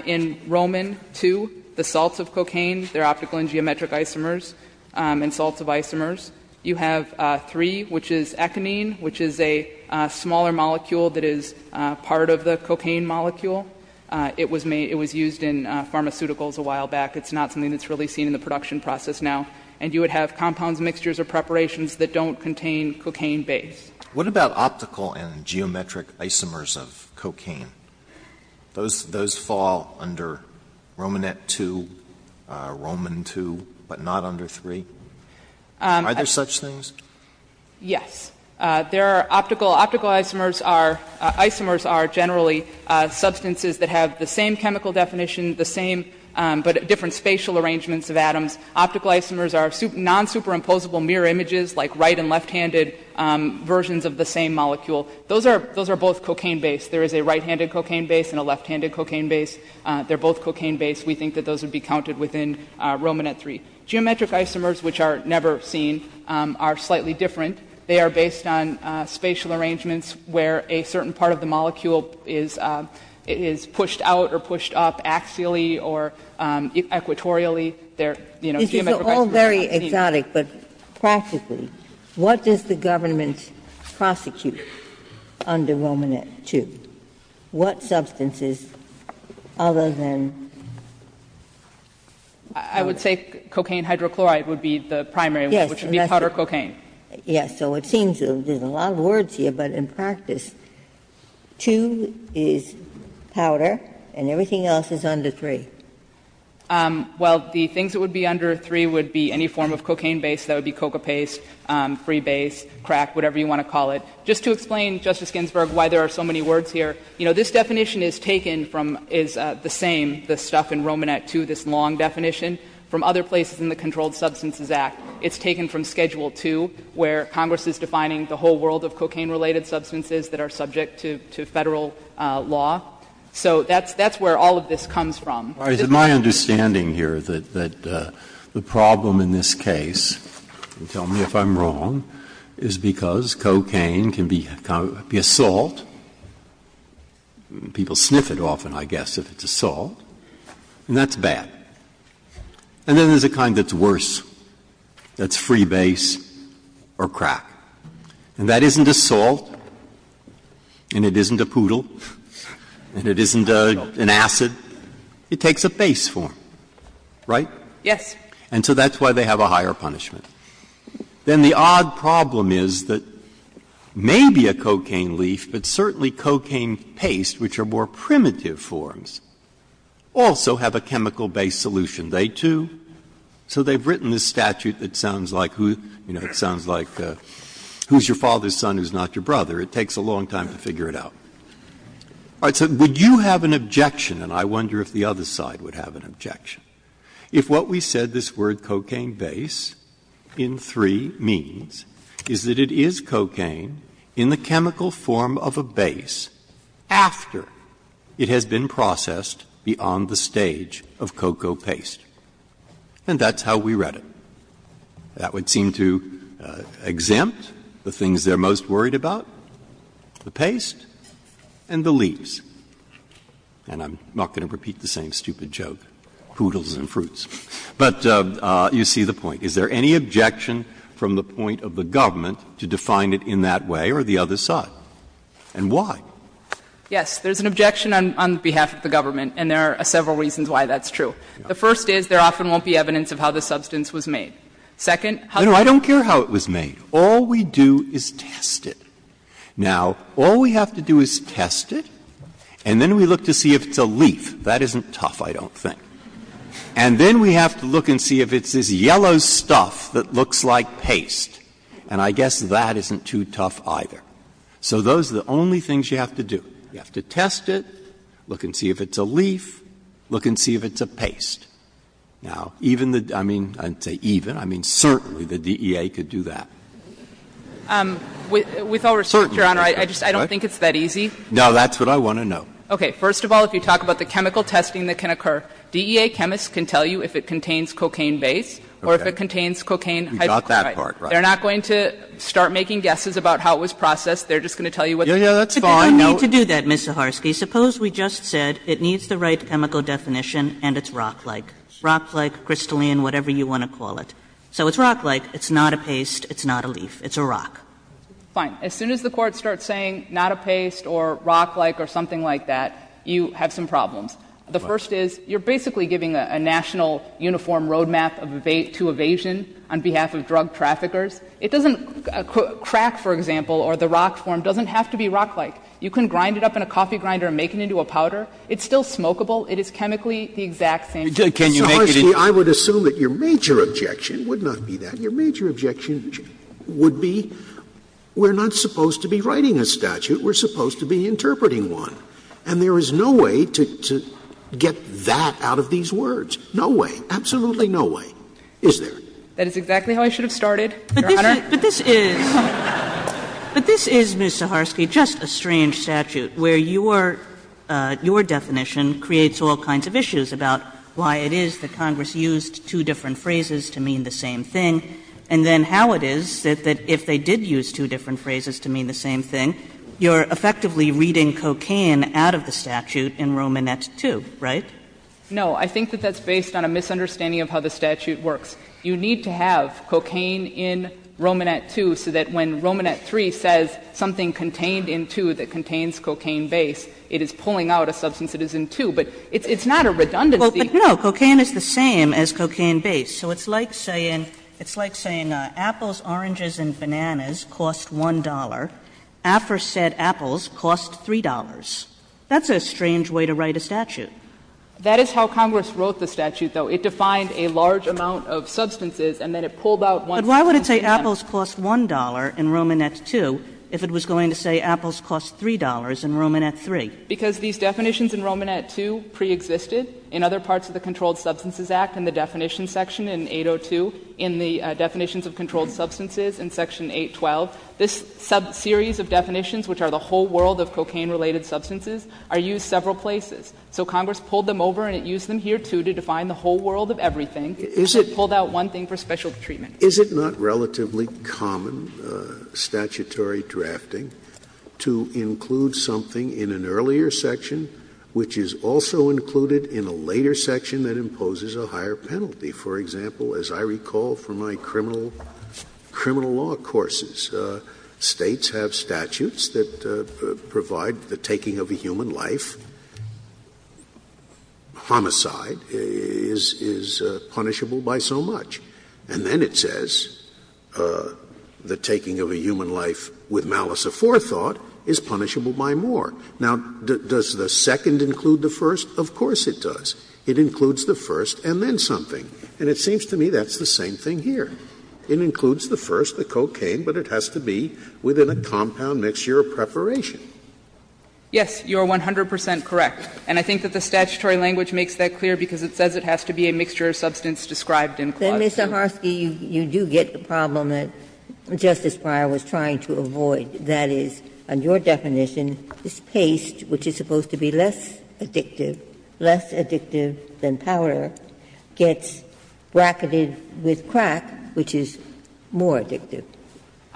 In Roman 2, the salts of cocaine, they're optical and geometric isomers, and salts of isomers. You have 3, which is econine, which is a smaller molecule that is part of the cocaine molecule. It was used in pharmaceuticals a while back. It's not something that's really seen in the production process now. And you would have compounds, mixtures, or preparations that don't contain cocaine base. Alito What about optical and geometric isomers of cocaine? Those fall under Romanet 2, Roman 2, but not under 3? Are there such things? Saharsky Yes. There are optical. Optical isomers are generally substances that have the same chemical definition, the same, but different spatial arrangements of atoms. Optical isomers are non-superimposable mirror images, like right and left-handed versions of the same molecule. Those are both cocaine-based. There is a right-handed cocaine base and a left-handed cocaine base. They're both cocaine-based. We think that those would be counted within Romanet 3. Geometric isomers, which are never seen, are slightly different. They are based on spatial arrangements where a certain part of the molecule is pushed out or pushed up axially or equatorially. They're, you know, geometrically not seen. Ginsburg This is all very exotic, but practically, what does the government prosecute under Romanet 2? What substances other than? Saharsky I would say cocaine hydrochloride would be the primary one, which would be powder cocaine. Ginsburg Yes, so it seems there's a lot of words here, but in practice, 2 is powder and everything else is under 3. Saharsky Well, the things that would be under 3 would be any form of cocaine base. That would be coca paste, freebase, crack, whatever you want to call it. Just to explain, Justice Ginsburg, why there are so many words here, you know, this definition is taken from the same, the stuff in Romanet 2, this long definition from other places in the Controlled Substances Act. It's taken from Schedule 2, where Congress is defining the whole world of cocaine-related substances that are subject to Federal law. So that's where all of this comes from. Breyer Is it my understanding here that the problem in this case, and tell me if I'm wrong, is because cocaine can be a salt, people sniff it often, I guess, if it's a salt, and that's bad. And then there's a kind that's worse, that's freebase or crack. And that isn't a salt, and it isn't a poodle, and it isn't an acid. It takes a base form, right? Saharsky Yes. Breyer And so that's why they have a higher punishment. Then the odd problem is that maybe a cocaine leaf, but certainly cocaine paste, which are more primitive forms, also have a chemical-based solution. They, too. So they've written this statute that sounds like, you know, it sounds like who's your father's son who's not your brother? It takes a long time to figure it out. All right. So would you have an objection, and I wonder if the other side would have an objection, if what we said this word cocaine base in 3 means is that it is cocaine in the chemical form of a base after it has been processed beyond the stage of cocoa paste? And that's how we read it. That would seem to exempt the things they're most worried about, the paste and the leaves. And I'm not going to repeat the same stupid joke, poodles and fruits. But you see the point. Is there any objection from the point of the government to define it in that way or the other side? And why? Saharsky Yes. There's an objection on behalf of the government, and there are several reasons why that's true. The first is there often won't be evidence of how the substance was made. Second, how the substance was made. Breyer No, I don't care how it was made. All we do is test it. Now, all we have to do is test it, and then we look to see if it's a leaf. That isn't tough, I don't think. And then we have to look and see if it's this yellow stuff that looks like paste. And I guess that isn't too tough either. So those are the only things you have to do. You have to test it, look and see if it's a leaf, look and see if it's a paste. Now, even the — I mean, I didn't say even. I mean, certainly the DEA could do that. Saharsky With all respect, Your Honor, I just don't think it's that easy. Breyer No, that's what I want to know. Saharsky Okay. First of all, if you talk about the chemical testing that can occur, DEA chemists can tell you if it contains cocaine base or if it contains cocaine hydrochloride. Breyer You got that part right. Saharsky They're not going to start making guesses about how it was processed. They're just going to tell you what the chemical is. Breyer Yes, that's fine. Kagan But you don't need to do that, Ms. Saharsky. Suppose we just said it needs the right chemical definition and it's rock-like. Rock-like, crystalline, whatever you want to call it. So it's rock-like, it's not a paste, it's not a leaf, it's a rock. Saharsky Fine. As soon as the Court starts saying not a paste or rock-like or something like that, you have some problems. The first is you're basically giving a national uniform road map of evasion on behalf of drug traffickers. It doesn't — crack, for example, or the rock form doesn't have to be rock-like. You can grind it up in a coffee grinder and make it into a powder. It's still smokeable. It is chemically the exact same. Scalia Can you make it into a powder? Scalia I would assume that your major objection would not be that. Your major objection would be we're not supposed to be writing a statute. We're supposed to be interpreting one. And there is no way to get that out of these words. No way. Absolutely no way. Is there? Saharsky That is exactly how I should have started, Your Honor. Kagan But this is — but this is, Ms. Saharsky, just a strange statute where you are — your definition creates all kinds of issues about why it is that Congress used two different phrases to mean the same thing, and then how it is that if they did use two different phrases to mean the same thing, you're effectively reading cocaine out of the statute in Romanette II, right? Saharsky No. I think that that's based on a misunderstanding of how the statute works. You need to have cocaine in Romanette II so that when Romanette III says something contained in II that contains cocaine base, it is pulling out a substance that is in II. But it's not a redundancy. Kagan But, no, cocaine is the same as cocaine base. So it's like saying — it's like saying apples, oranges, and bananas cost $1. AFER said apples cost $3. That's a strange way to write a statute. Saharsky That is how Congress wrote the statute, though. It defined a large amount of substances, and then it pulled out one substance in that. Kagan But why would it say apples cost $1 in Romanette II if it was going to say apples cost $3 in Romanette III? Saharsky Because these definitions in Romanette II preexisted in other parts of the Controlled Substances Act in the definition section in 802, in the definitions of controlled substances in section 812. This series of definitions, which are the whole world of cocaine-related substances, are used several places. So Congress pulled them over and it used them here, too, to define the whole world of everything. It pulled out one thing for special treatment. Scalia Is it not relatively common, statutory drafting, to include something in an earlier section which is also included in a later section that imposes a higher penalty? For example, as I recall from my criminal law courses, States have statutes that provide the taking of a human life, homicide, is punishable by so much. And then it says the taking of a human life with malice aforethought is punishable by more. Now, does the second include the first? Of course it does. It includes the first and then something. And it seems to me that's the same thing here. It includes the first, the cocaine, but it has to be within a compound mixture preparation. Yes, you are 100 percent correct. And I think that the statutory language makes that clear because it says it has to be a mixture of substance described in clause 2. Ginsburg Then, Mr. Harsky, you do get the problem that Justice Breyer was trying to avoid. That is, on your definition, this paste, which is supposed to be less addictive, less addictive than powder, gets bracketed with crack, which is more addictive.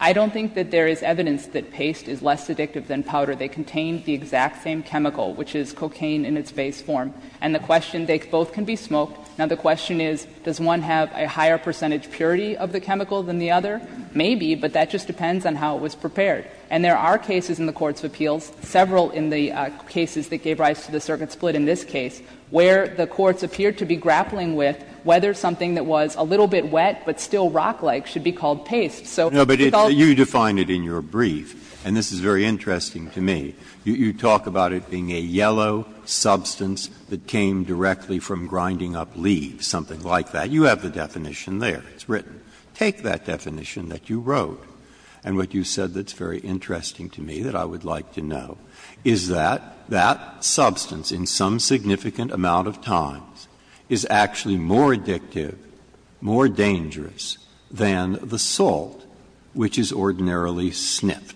I don't think that there is evidence that paste is less addictive than powder. They contain the exact same chemical, which is cocaine in its base form. And the question, they both can be smoked. Now, the question is, does one have a higher percentage purity of the chemical than the other? Maybe, but that just depends on how it was prepared. And there are cases in the courts of appeals, several in the cases that gave rise to the circuit split in this case, where the courts appeared to be grappling with whether something that was a little bit wet but still rock-like should be called a paste. So it could all be the same. Breyer No, but you define it in your brief, and this is very interesting to me. You talk about it being a yellow substance that came directly from grinding up leaves, something like that. You have the definition there. It's written. Take that definition that you wrote and what you said that's very interesting to me that I would like to know, is that that substance in some significant amount of times is actually more addictive, more dangerous than the salt which is ordinarily sniffed?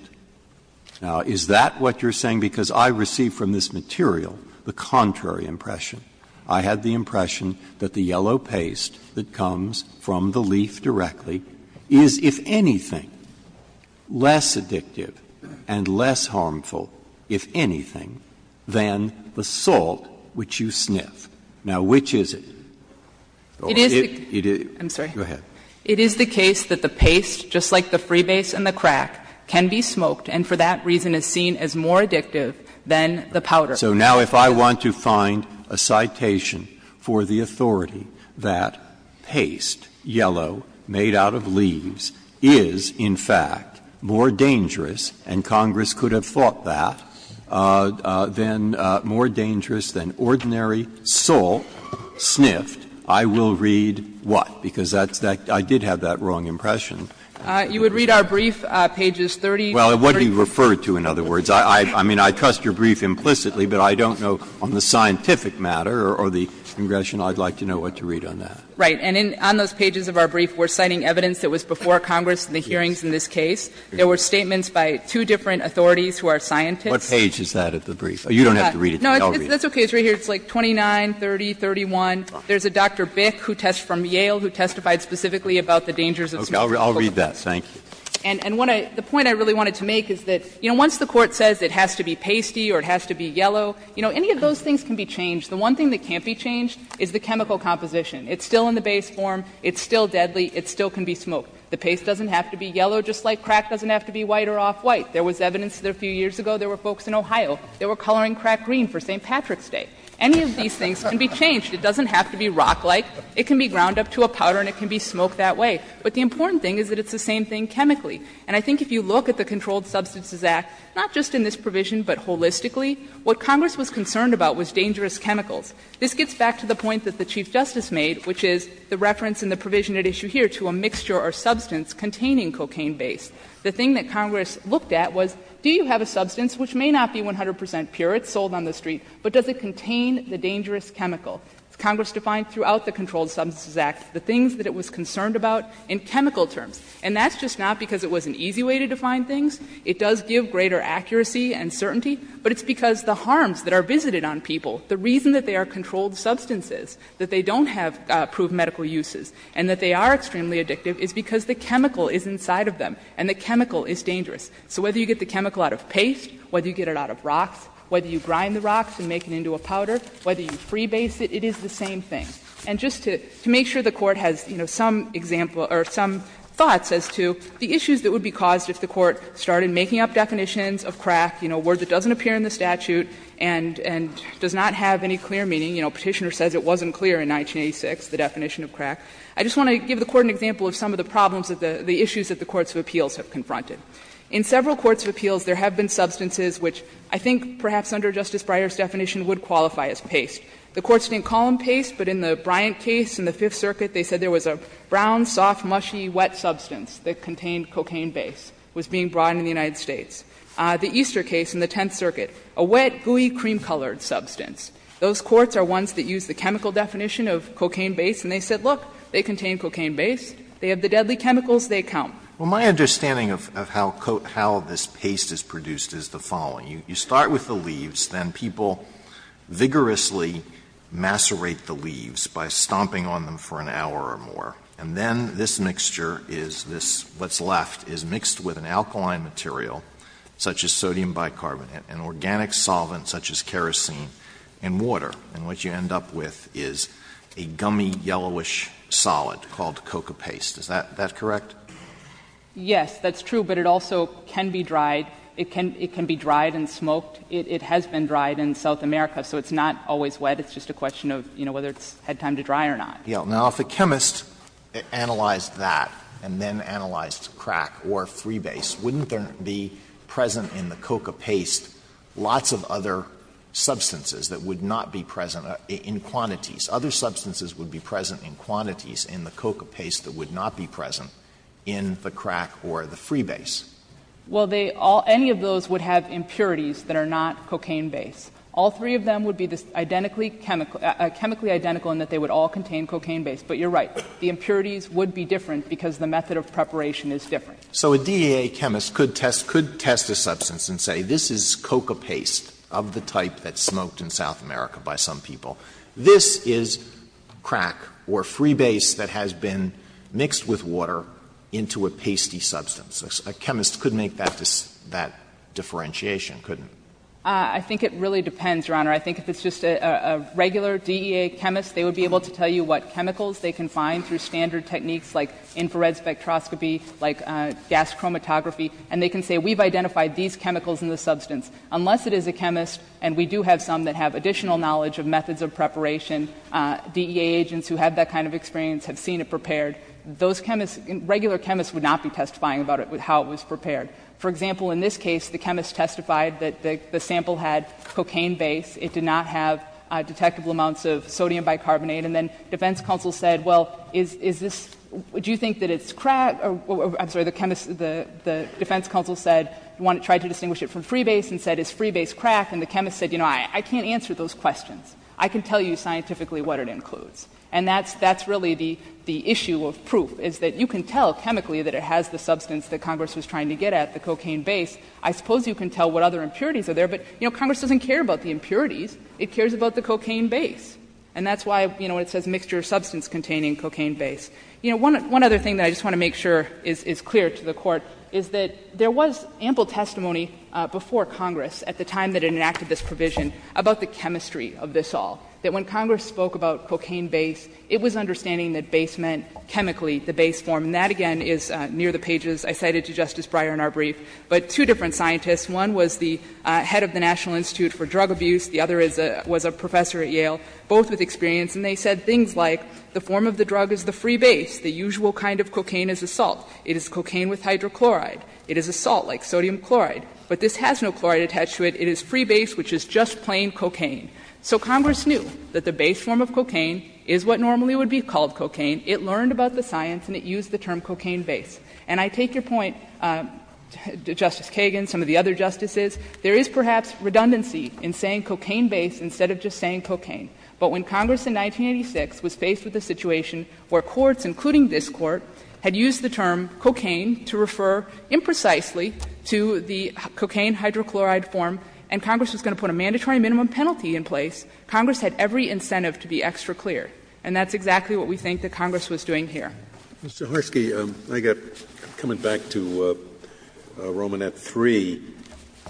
Now, is that what you're saying? Because I received from this material the contrary impression. I had the impression that the yellow paste that comes from the leaf directly is, if anything, less addictive and less harmful, if anything, than the salt which you sniff. Now, which is it? Or it is the case that the paste, just like the freebase and the crack, can be smoked and for that reason is seen as more addictive than the powder. Breyer So now if I want to find a citation for the authority that paste, yellow, made out of leaves, is, in fact, more dangerous, and Congress could have thought that, than more dangerous than ordinary salt sniffed, I will read what? Because that's that – I did have that wrong impression. Saharsky You would read our brief, pages 30 to 30. Breyer Well, what do you refer to, in other words? I mean, I trust your brief implicitly, but I don't know on the scientific matter or the Congressional, I'd like to know what to read on that. Saharsky Right. And on those pages of our brief, we're citing evidence that was before Congress in the hearings in this case. There were statements by two different authorities who are scientists. Breyer What page is that of the brief? You don't have to read it to me. I'll read it. Saharsky No, that's okay. It's right here. It's like 29, 30, 31. There's a Dr. Bick, who tests from Yale, who testified specifically about the dangers of salt. Breyer I'll read that. Thank you. Saharsky And what I – the point I really wanted to make is that, you know, once the Court says it has to be pasty or it has to be yellow, you know, any of those things can be changed. The one thing that can't be changed is the chemical composition. It's still in the base form. It's still deadly. It still can be smoked. The paste doesn't have to be yellow, just like crack doesn't have to be white or off white. There was evidence that a few years ago there were folks in Ohio that were coloring crack green for St. Patrick's Day. Any of these things can be changed. It doesn't have to be rock-like. It can be ground up to a powder and it can be smoked that way. But the important thing is that it's the same thing chemically. And I think if you look at the Controlled Substances Act, not just in this provision but holistically, what Congress was concerned about was dangerous chemicals. This gets back to the point that the Chief Justice made, which is the reference in the provision at issue here to a mixture or substance containing cocaine base. The thing that Congress looked at was, do you have a substance which may not be 100 percent pure, it's sold on the street, but does it contain the dangerous chemical? Congress defined throughout the Controlled Substances Act the things that it was concerned about in chemical terms. And that's just not because it was an easy way to define things. It does give greater accuracy and certainty, but it's because the harms that are visited on people, the reason that they are controlled substances, that they don't have proved medical uses and that they are extremely addictive is because the chemical is inside of them and the chemical is dangerous. So whether you get the chemical out of paste, whether you get it out of rocks, whether you grind the rocks and make it into a powder, whether you freebase it, it is the same thing. And just to make sure the Court has, you know, some example or some thoughts as to the issues that would be caused if the Court started making up definitions of crack, you know, a word that doesn't appear in the statute and does not have any clear meaning, you know, Petitioner says it wasn't clear in 1986, the definition of crack. I just want to give the Court an example of some of the problems, the issues that the courts of appeals have confronted. In several courts of appeals, there have been substances which I think perhaps under Justice Breyer's definition would qualify as paste. The courts didn't call them paste, but in the Bryant case in the Fifth Circuit they said there was a brown, soft, mushy, wet substance that contained cocaine base, was being brought into the United States. The Easter case in the Tenth Circuit, a wet, gooey, cream-colored substance. Those courts are ones that use the chemical definition of cocaine base and they said, look, they contain cocaine base, they have the deadly chemicals, they count. Alitoson Well, my understanding of how this paste is produced is the following. You start with the leaves, then people vigorously macerate the leaves by stomping on them for an hour or more, and then this mixture is this, what's left is mixed with an alkaline material such as sodium bicarbonate, an organic solvent such as kerosene and water, and what you end up with is a gummy, yellowish solid called coca paste. Is that correct? Saharsky Yes, that's true, but it also can be dried. It can be dried and smoked. It has been dried in South America, so it's not always wet. It's just a question of, you know, whether it's had time to dry or not. Alitoson Now, if a chemist analyzed that and then analyzed crack or 3-base, wouldn't there be present in the coca paste lots of other substances that would not be present in quantities? Other substances would be present in quantities in the coca paste that would not be present in the crack or the 3-base? Saharsky Well, they all any of those would have impurities that are not cocaine base. All three of them would be identically chemical, chemically identical in that they would all contain cocaine base. But you're right. The impurities would be different because the method of preparation is different. Alitoson So a DEA chemist could test a substance and say, this is coca paste of the type that's smoked in South America by some people. This is crack or 3-base that has been mixed with water into a pasty substance. A chemist could make that differentiation, couldn't he? Saharsky I think it really depends, Your Honor. I think if it's just a regular DEA chemist, they would be able to tell you what chemicals they can find through standard techniques like infrared spectroscopy, like gas chromatography. And they can say, we've identified these chemicals in the substance. Unless it is a chemist, and we do have some that have additional knowledge of methods of preparation, DEA agents who have that kind of experience have seen it prepared. Those chemists, regular chemists would not be testifying about it, how it was prepared. For example, in this case, the chemist testified that the sample had cocaine base. It did not have detectable amounts of sodium bicarbonate. And then defense counsel said, well, is this — do you think that it's crack? I'm sorry, the chemist — the defense counsel said, tried to distinguish it from 3-base and said, is 3-base crack? And the chemist said, you know, I can't answer those questions. I can tell you scientifically what it includes. And that's really the issue of proof, is that you can tell chemically that it has the substance that Congress was trying to get at, the cocaine base. I suppose you can tell what other impurities are there, but, you know, Congress doesn't care about the impurities. It cares about the cocaine base. And that's why, you know, it says mixture of substance containing cocaine base. You know, one other thing that I just want to make sure is clear to the Court is that there was ample testimony before Congress at the time that it enacted this provision about the chemistry of this all, that when Congress spoke about cocaine base, it was understanding that base meant chemically the base form. And that, again, is near the pages. I cited to Justice Breyer in our brief. But two different scientists, one was the head of the National Institute for Drug Abuse, the other is a — was a professor at Yale. Both with experience, and they said things like, the form of the drug is the free base, the usual kind of cocaine is a salt, it is cocaine with hydrochloride, it is a salt like sodium chloride, but this has no chloride attached to it, it is free base, which is just plain cocaine. So Congress knew that the base form of cocaine is what normally would be called cocaine. It learned about the science and it used the term cocaine base. And I take your point, Justice Kagan, some of the other Justices, there is perhaps redundancy in saying cocaine base instead of just saying cocaine. But when Congress in 1986 was faced with a situation where courts, including this Court, had used the term cocaine to refer imprecisely to the cocaine hydrochloride form, and Congress was going to put a mandatory minimum penalty in place, Congress had every incentive to be extra clear. And that's exactly what we think that Congress was doing here. Scalia. Mr. Harski, I got — coming back to Roman at 3,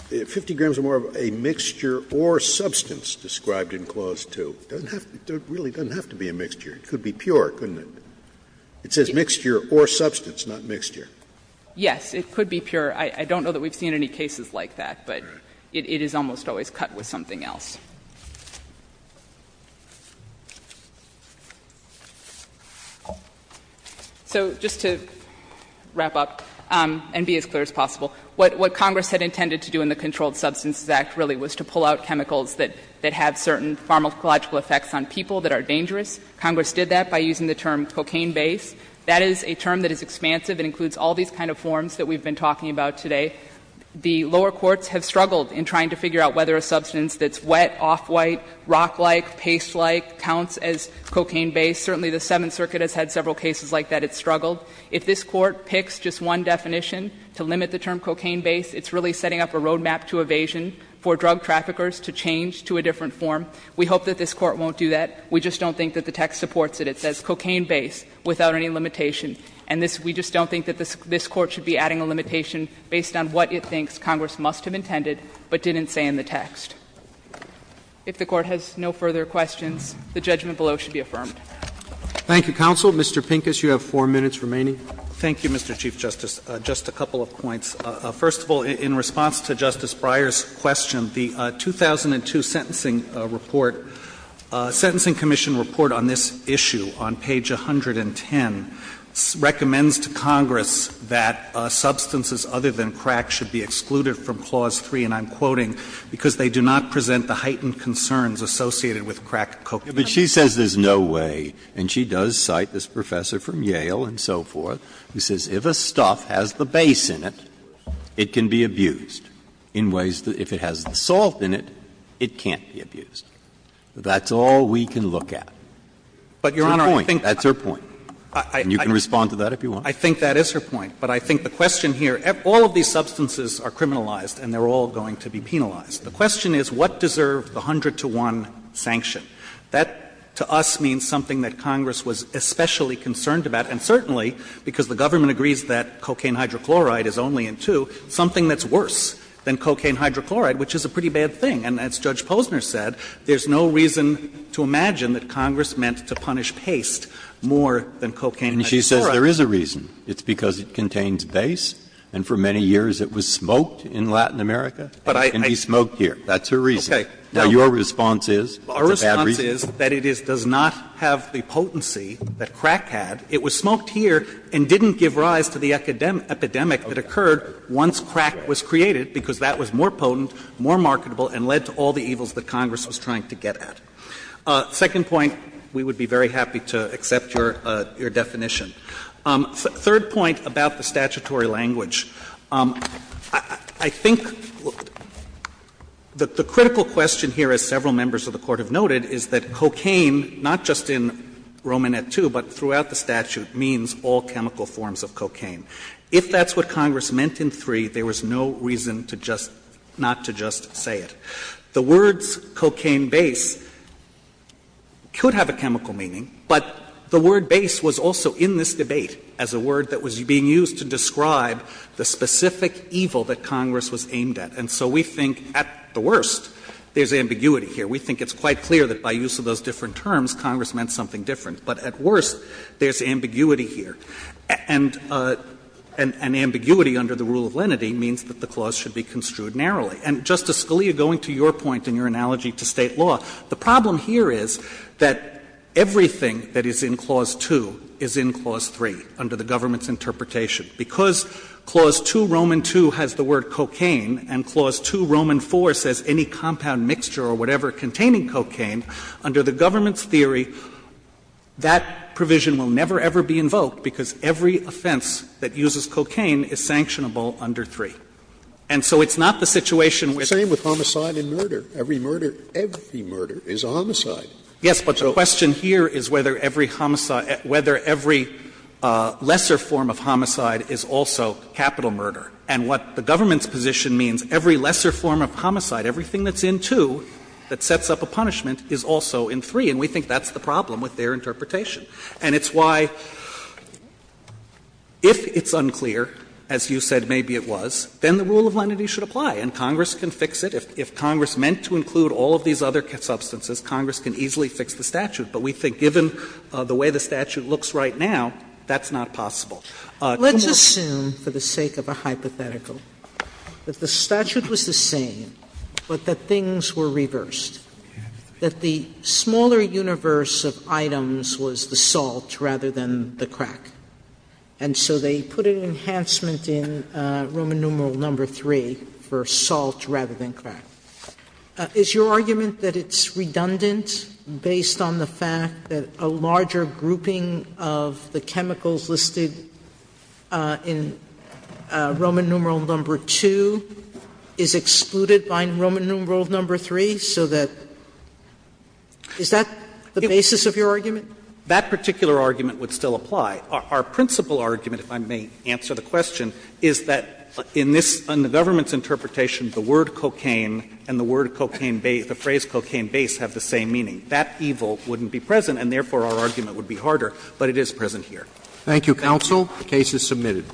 50 grams or more of a mixture or substance described in Clause 2. It doesn't have to be — it really doesn't have to be a mixture. It could be pure, couldn't it? It says mixture or substance, not mixture. Yes, it could be pure. I don't know that we've seen any cases like that, but it is almost always cut with something else. So just to wrap up and be as clear as possible, what Congress had intended to do in the Controlled Substances Act really was to pull out chemicals that have certain pharmacological effects on people that are dangerous. Congress did that by using the term cocaine base. That is a term that is expansive and includes all these kind of forms that we've been talking about today. The lower courts have struggled in trying to figure out whether a substance that's wet, off-white, rock-like, paste-like counts as cocaine base. Certainly, the Seventh Circuit has had several cases like that. It's struggled. If this Court picks just one definition to limit the term cocaine base, it's really setting up a road map to evasion for drug traffickers to change to a different form. We hope that this Court won't do that. We just don't think that the text supports it. It says cocaine base without any limitation. And this we just don't think that this Court should be adding a limitation based on what it thinks Congress must have intended but didn't say in the text. If the Court has no further questions, the judgment below should be affirmed. Roberts. Thank you, counsel. Mr. Pincus, you have four minutes remaining. Pincus. Thank you, Mr. Chief Justice. Just a couple of points. First of all, in response to Justice Breyer's question, the 2002 sentencing report, Sentencing Commission report on this issue on page 110 recommends to Congress that substances other than crack should be excluded from Clause 3, and I'm quoting, "...because they do not present the heightened concerns associated with crack cocaine." But she says there's no way, and she does cite this professor from Yale and so forth, who says if a stuff has the base in it, it can be abused in ways that if it has the salt in it, it can't be abused. That's all we can look at. That's her point. And you can respond to that if you want. I think that is her point. But I think the question here, all of these substances are criminalized and they're all going to be penalized. The question is what deserved the 100-to-1 sanction? That to us means something that Congress was especially concerned about, and certainly because the government agrees that cocaine hydrochloride is only in two, something that's worse than cocaine hydrochloride, which is a pretty bad thing. And as Judge Posner said, there's no reason to imagine that Congress meant to punish paste more than cocaine hydrochloride. Breyer. And she says there is a reason. It's because it contains base, and for many years it was smoked in Latin America. It can be smoked here. That's her reason. Now, your response is it's a bad reason? Our response is that it does not have the potency that crack had. It was smoked here and didn't give rise to the epidemic that occurred once crack was created, because that was more potent, more marketable, and led to all the evils that Congress was trying to get at. Second point, we would be very happy to accept your definition. Third point about the statutory language. I think the critical question here, as several members of the Court have noted, is that cocaine, not just in Romanet II, but throughout the statute, means all chemical forms of cocaine. If that's what Congress meant in 3, there was no reason to just not to just say it. The words cocaine base could have a chemical meaning, but the word base was also in this debate as a word that was being used to describe the specific evil that Congress was aimed at. And so we think, at the worst, there's ambiguity here. We think it's quite clear that by use of those different terms, Congress meant something different. But at worst, there's ambiguity here. And ambiguity under the rule of lenity means that the clause should be construed narrowly. And, Justice Scalia, going to your point in your analogy to State law, the problem here is that everything that is in Clause 2 is in Clause 3 under the government's interpretation. Because Clause 2, Roman II, has the word cocaine, and Clause 2, Roman IV, says any compound mixture or whatever containing cocaine, under the government's theory, that provision will never, ever be invoked, because every offense that uses cocaine is sanctionable under 3. And so it's not the situation with Scalia, same with homicide and murder. Every murder, every murder is a homicide. Yes, but the question here is whether every lesser form of homicide is also capital murder. And what the government's position means, every lesser form of homicide, everything that's in 2 that sets up a punishment, is also in 3. And we think that's the problem with their interpretation. And it's why, if it's unclear, as you said maybe it was, then the rule of lenity should apply, and Congress can fix it. If Congress meant to include all of these other substances, Congress can easily fix the statute. But we think given the way the statute looks right now, that's not possible. Sotomayor, let's assume, for the sake of a hypothetical, that the statute was the same, but that things were reversed, that the smaller universe of items was the salt rather than the crack. And so they put an enhancement in Roman numeral number 3 for salt rather than crack. Is your argument that it's redundant based on the fact that a larger grouping of the chemicals listed in Roman numeral number 2 is excluded by Roman numeral number 3, so that — is that the basis of your argument? That particular argument would still apply. Our principal argument, if I may answer the question, is that in this — in the government's interpretation, the word cocaine and the word cocaine base, the phrase cocaine base have the same meaning. That evil wouldn't be present, and therefore our argument would be harder, but it is present here. Thank you, counsel. The case is submitted.